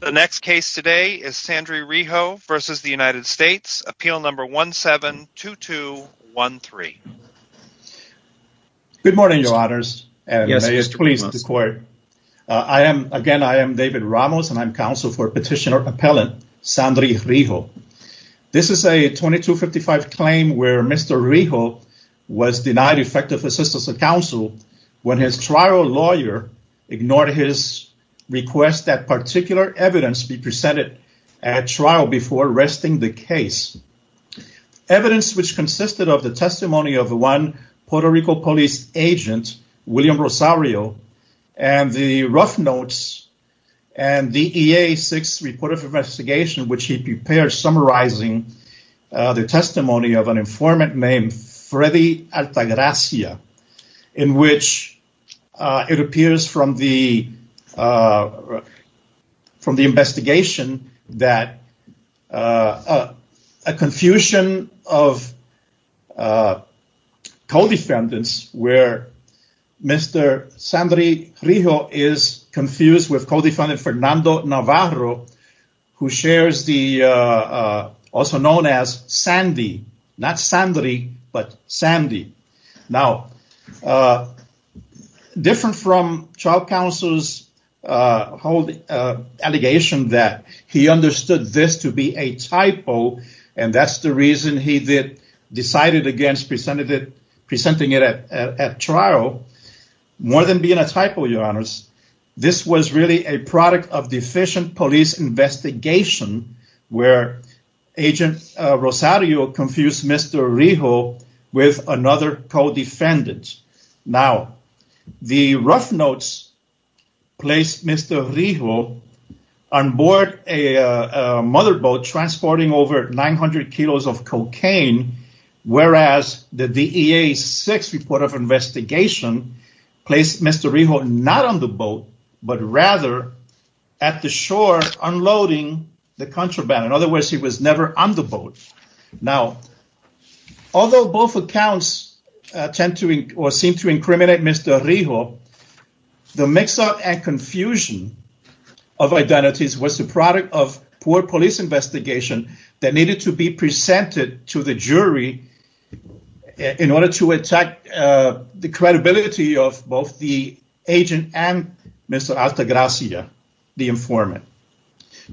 The next case today is Sandry Rijo versus the United States. Appeal number 172213. Good morning, your honors. I am, again, I am David Ramos and I'm counsel for petitioner appellant Sandry Rijo. This is a 2255 claim where Mr. Rijo was denied effective assistance of counsel when his trial lawyer ignored his request that particular evidence be presented at trial before arresting the case. Evidence which consisted of the testimony of one Puerto Rico police agent, William Rosario, and the rough notes and the EA-6 report of investigation which he prepared summarizing the testimony of an from the investigation that a confusion of co-defendants where Mr. Sandry Rijo is confused with co-defendant Fernando Navarro who shares the also known as Sandy. Now, different from trial counsel's whole allegation that he understood this to be a typo and that's the reason he did decided against presented it presenting it at trial more than being a typo, your honors. This was really a product of deficient police investigation where agent Rosario confused Mr. Rijo with another co-defendant. Now, the rough notes placed Mr. Rijo on board a motherboat transporting over 900 kilos of cocaine whereas the DEA-6 report of investigation placed Mr. Rijo not on the boat but rather at the Now, although both accounts tend to or seem to incriminate Mr. Rijo, the mix-up and confusion of identities was the product of poor police investigation that needed to be presented to the jury in order to attack the credibility of both the agent and Mr. Altagracia, the informant.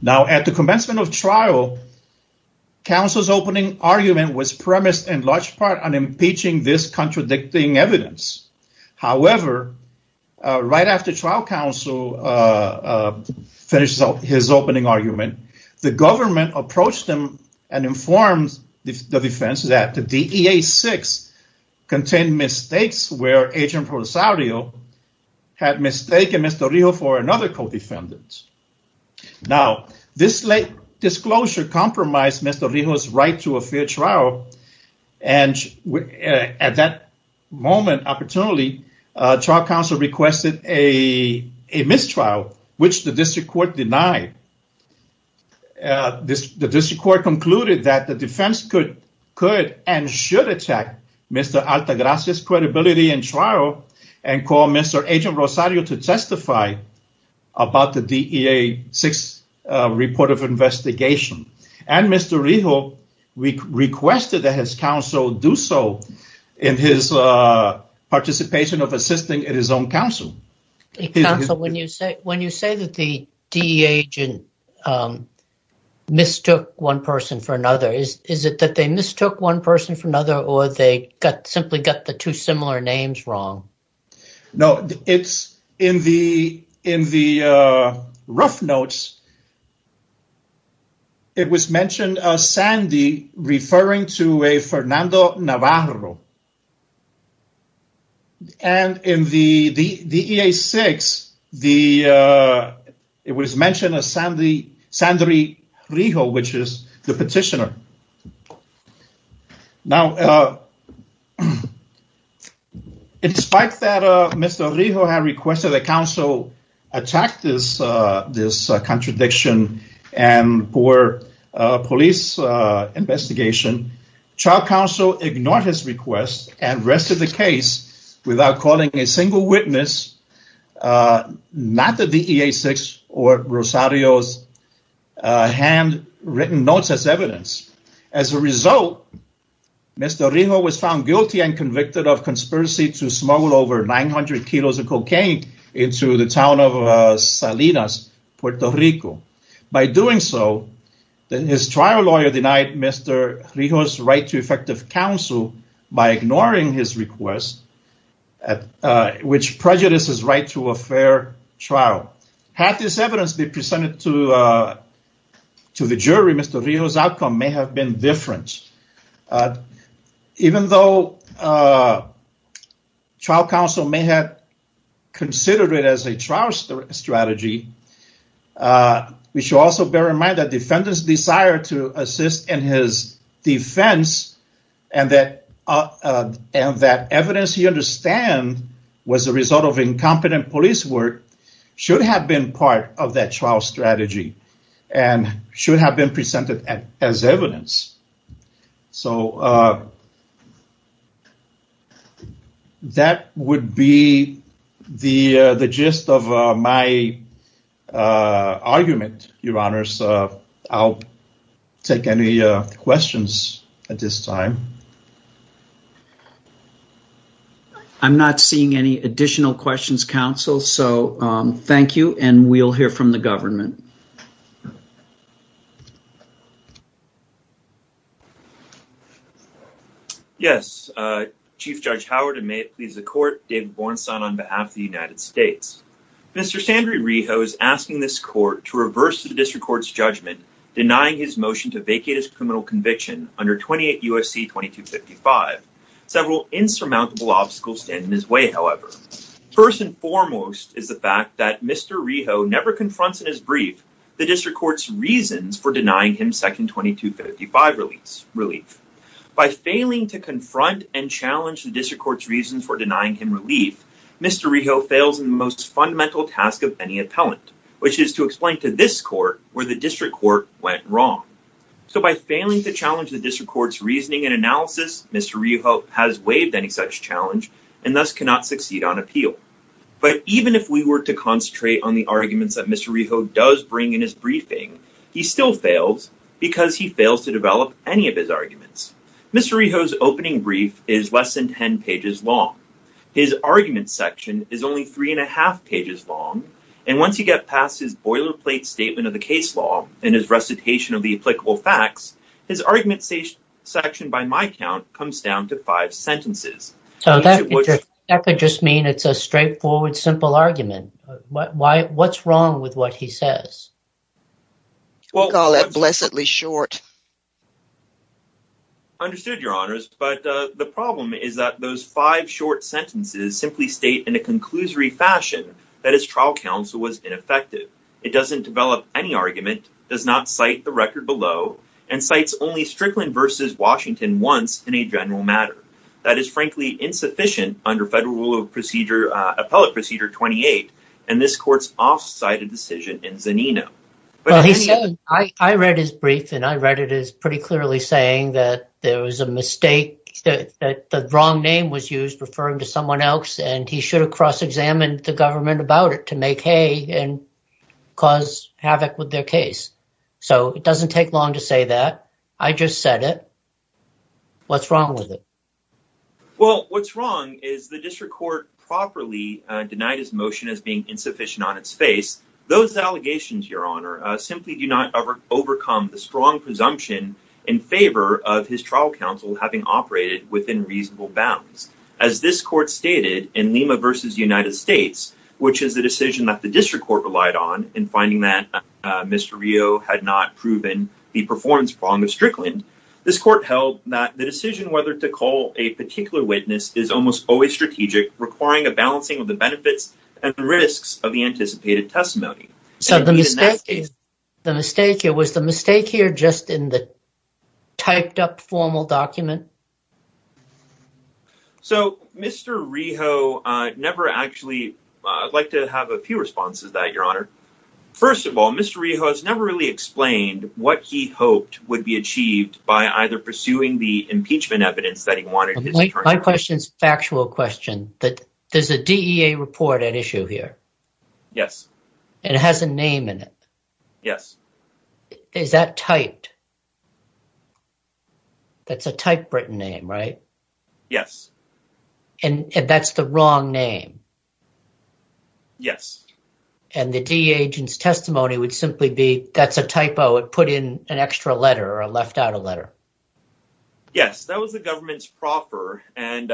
Now, at the commencement of trial, counsel's opening argument was premised in large part on impeaching this contradicting evidence. However, right after trial counsel finished his opening argument, the government approached him and informed the defense that the DEA-6 contained mistakes where agent Rosario had mistaken Mr. Rijo for another co-defendant. Now, this late disclosure compromised Mr. Rijo's right to a fair trial and at that moment, opportunely, trial counsel requested a mistrial which the district court denied. The district court concluded that the defense could and should attack Mr. Altagracia's credibility in trial and call Mr. Agent for a DEA-6 report of investigation and Mr. Rijo requested that his counsel do so in his participation of assisting at his own counsel. Counsel, when you say that the DEA agent mistook one person for another, is it that they mistook one person for another or they simply got the two similar names wrong? No, it's in the rough notes, it was mentioned a Sandy referring to a Fernando Navarro. And in the DEA-6, it was mentioned a Sandy Rijo, which is the petitioner. Now, in spite that Mr. Rijo had requested that counsel attack this contradiction and for a police investigation, trial counsel ignored his request and rested the case without calling a single witness, not the DEA-6 or Rosario's handwritten notes as evidence. As a result, Mr. Rijo was found guilty and convicted of conspiracy to smuggle over 900 kilos of cocaine into the town of Salinas, Puerto Rico. By doing so, his trial lawyer denied Mr. Rijo's right to effective counsel by ignoring his request, which prejudices right to a fair trial. Had this evidence been presented to the jury, Mr. Rijo's outcome may have been different. Even though trial counsel may have considered it as a trial strategy, we should also bear in mind that defendant's desire to assist in his defense and that evidence he understand was a result of incompetent police work should have been part of that trial strategy and should have been presented as evidence. So that would be the gist of my argument, Your Honors. I'll take any questions at this time. I'm not seeing any additional questions, counsel, so thank you and we'll hear from the government. Yes, Chief Judge Howard and may it please the court, David Bornstein on behalf of the United States. Mr. Sandry Rijo is asking this court to reverse the district court's judgment, denying his motion to vacate his criminal conviction under 28 UFC 2255. Several insurmountable obstacles stand in his way, however. First and foremost is the fact that Mr. Rijo never confronts in his brief the district court's reasons for denying him second 2255 relief. By failing to confront and challenge the district court's reasons for denying him relief, Mr. Rijo fails in the most fundamental task of any appellant, which is to explain to this court where the district court went wrong. So by failing to challenge the district court's analysis, Mr. Rijo has waived any such challenge and thus cannot succeed on appeal. But even if we were to concentrate on the arguments that Mr. Rijo does bring in his briefing, he still fails because he fails to develop any of his arguments. Mr. Rijo's opening brief is less than 10 pages long. His argument section is only three and a half pages long and once you get past his boilerplate statement of the case law and his recitation of the applicable facts, his argument section by my count comes down to five sentences. So that could just mean it's a straightforward simple argument. What's wrong with what he says? We call that blessedly short. Understood your honors, but the problem is that those five short sentences simply state in a conclusory fashion that his trial counsel was ineffective. It doesn't develop any argument, does not cite the record below, and cites only Strickland versus Washington once in a general matter. That is frankly insufficient under federal rule of procedure, uh, appellate procedure 28. And this court's off-sited decision in Zanino. I read his brief and I read it as pretty clearly saying that there was a mistake that the wrong name was used referring to someone else and he should have cross-examined the government about it to make hay and cause havoc with their case. So it doesn't take long to say that. I just said it. What's wrong with it? Well, what's wrong is the district court properly denied his motion as being insufficient on its face. Those allegations, your honor, simply do not overcome the strong presumption in favor of his trial counsel having operated within reasonable bounds. As this court stated in Lima versus United States, which is the decision that the district court relied on in finding that Mr. Rio had not proven the performance wrong of Strickland, this court held that the decision whether to call a particular witness is almost always strategic requiring a balancing of the benefits and the risks of the anticipated testimony. So the mistake is the mistake here was the mistake here just in the typed up formal document. So Mr. Rio never actually, I'd like to have a few responses that your honor. First of all, Mr. Rio has never really explained what he hoped would be achieved by either pursuing the impeachment evidence that he wanted. My question's factual question that there's a DEA report at Yes. And it has a name in it. Yes. Is that typed? That's a typewritten name, right? Yes. And that's the wrong name. Yes. And the DEA agent's testimony would simply be that's a typo. It put in an extra letter or left out a letter. Yes, that was the government's proper. And,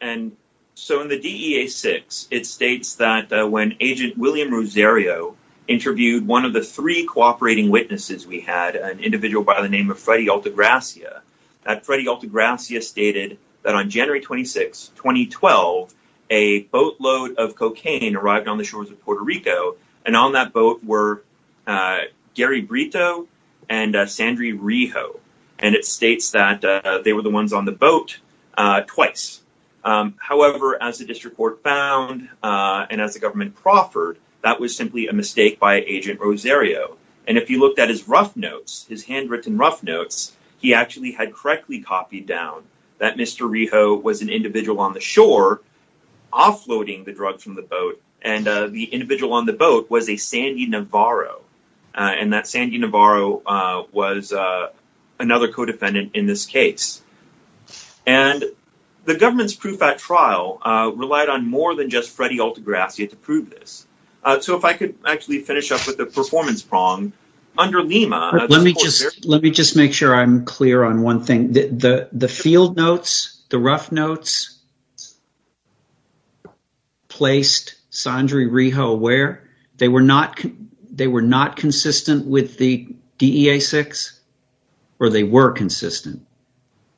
and so in the DEA six, it states that when agent William Rosario interviewed one of the three cooperating witnesses, we had an individual by the name of Freddy Altagracia, that Freddy Altagracia stated that on January 26, 2012, a boatload of cocaine arrived on the shores of Puerto Rico. And on that boat were Gary Brito and Sandra Riho. And it states that they were the ones on the boat twice. However, as the district court found and as the government proffered, that was simply a mistake by agent Rosario. And if you looked at his rough notes, his handwritten rough notes, he actually had correctly copied down that Mr. Riho was an individual on the shore offloading the drugs from the boat. And the individual on the boat was a Sandy Navarro. And that Sandy Navarro was another co-defendant in this case. And the government's proof at trial relied on more than just Freddy Altagracia to prove this. So if I could actually finish up with the performance prong under Lima. Let me just, let me just make sure I'm clear on one thing. The field notes, the rough notes placed Sandra Riho where? They were not consistent with the DEA-6 or they were consistent?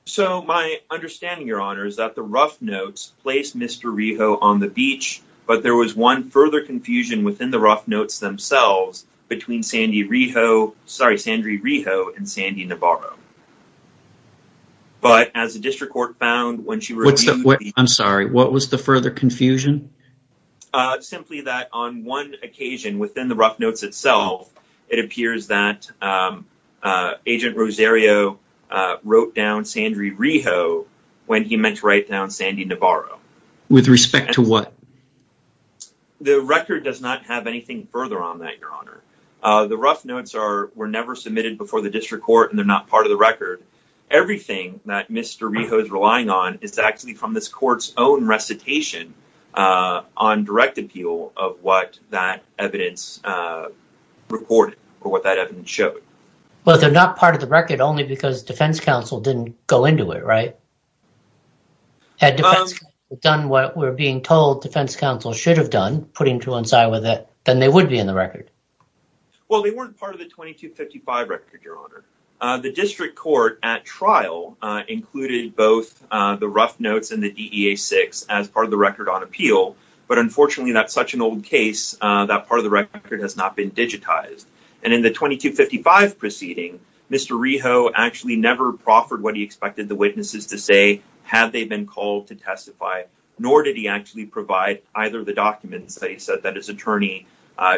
So my understanding, your honor, is that the rough notes placed Mr. Riho on the beach, but there was one further confusion within the rough notes themselves between Sandy Riho, sorry, Sandra Riho and Sandy Navarro. But as the district court found when she wrote. I'm sorry, what was the further confusion? Simply that on one occasion within the rough notes itself, it appears that agent Rosario wrote down Sandra Riho when he meant to write down Sandy Navarro. With respect to what? The record does not have anything further on that, your honor. The rough notes are, were never submitted before the district court and they're not part of the record. Everything that Mr. Riho is relying on is actually from this court's own recitation on direct appeal of what that evidence recorded or what that evidence showed. Well, they're not part of the record only because defense counsel didn't go into it, right? Had defense counsel done what we're being told defense counsel should have done, put him to one side with it, then they would be in the record. Well, they weren't part of the 2255 record, your honor. The district court at trial included both the rough notes and the DEA-6 as part of the record on appeal. But unfortunately, that's such an old case that part of the record has not been digitized. And in the 2255 proceeding, Mr. Riho actually never proffered what he expected the witnesses to say, had they been called to testify, nor did he actually provide either of the documents that he said that his attorney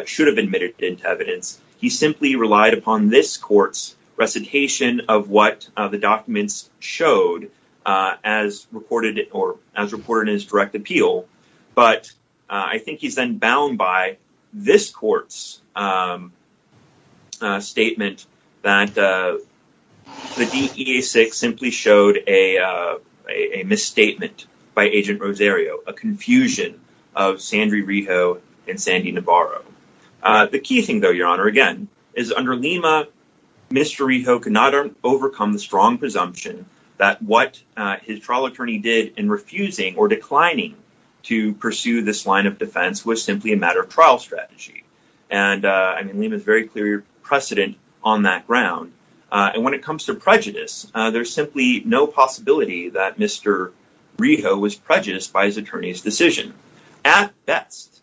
should have admitted into evidence. He simply relied upon this court's recitation of what the documents showed as recorded or as reported in his direct appeal. But I think he's then bound by this court's statement that the DEA-6 simply showed a misstatement by Agent Rosario, a confusion of Sandry Riho and Sandy Navarro. The key thing though, your honor, again, is under Lima, Mr. Riho could not overcome the presumption that what his trial attorney did in refusing or declining to pursue this line of defense was simply a matter of trial strategy. And I mean, Lima is very clear precedent on that ground. And when it comes to prejudice, there's simply no possibility that Mr. Riho was prejudiced by his attorney's decision. At best,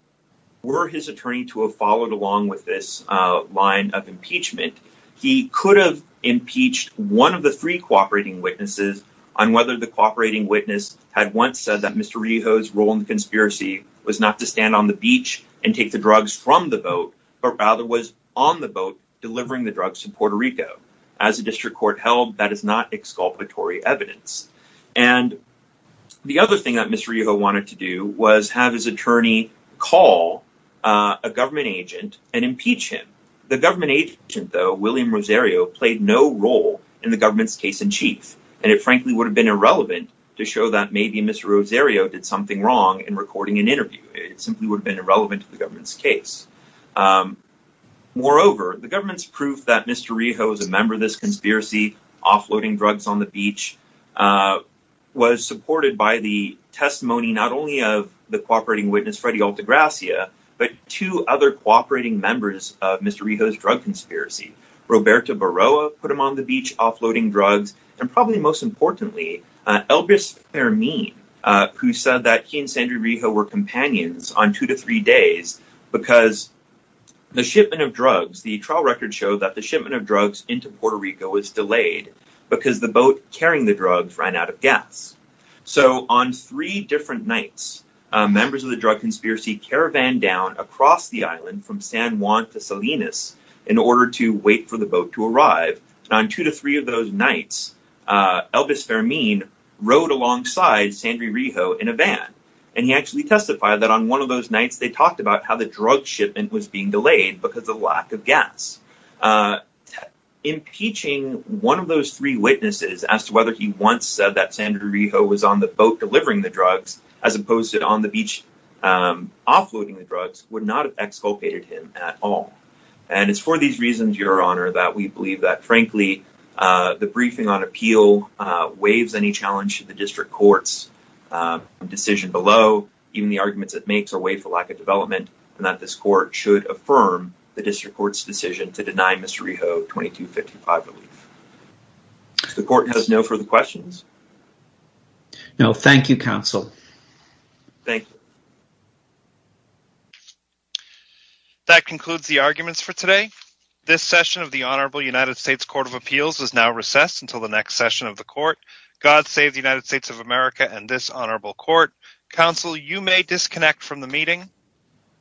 were his attorney to have followed along with this line of impeachment, he could have impeached one of the three cooperating witnesses on whether the cooperating witness had once said that Mr. Riho's role in the conspiracy was not to stand on the beach and take the drugs from the boat, but rather was on the boat delivering the drugs to Puerto Rico. As a district court held, that is not exculpatory evidence. And the other thing that Mr. Riho wanted to do was have his attorney call a government agent and impeach him. The government agent though, William Rosario played no role in the government's case in chief. And it frankly would have been irrelevant to show that maybe Mr. Rosario did something wrong in recording an interview. It simply would have been irrelevant to the government's case. Moreover, the government's proof that Mr. Riho was a member of this conspiracy, offloading drugs on the beach, was supported by the testimony not only of the cooperating members of Mr. Riho's drug conspiracy. Roberta Barroa put him on the beach offloading drugs, and probably most importantly, Elbrus Fermin, who said that he and Sandra Riho were companions on two to three days because the shipment of drugs, the trial records show that the shipment of drugs into Puerto Rico was delayed because the boat carrying the drugs ran out of gas. So on three nights, members of the drug conspiracy caravan down across the island from San Juan to Salinas in order to wait for the boat to arrive. On two to three of those nights, Elbrus Fermin rode alongside Sandra Riho in a van. And he actually testified that on one of those nights, they talked about how the drug shipment was being delayed because of lack of gas. Impeaching one of those three witnesses as to whether he once said that Sandra Riho was on boat delivering the drugs, as opposed to on the beach offloading the drugs, would not have exculpated him at all. And it's for these reasons, Your Honor, that we believe that, frankly, the briefing on appeal waives any challenge to the district court's decision below. Even the arguments it makes are waived for lack of development, and that this court should affirm the district court's decision to deny Mr. Riho 2255 relief. The court has no further questions. No, thank you, counsel. Thank you. That concludes the arguments for today. This session of the Honorable United States Court of Appeals is now recessed until the next session of the court. God save the United States of America and this honorable court. Counsel, you may disconnect from the meeting.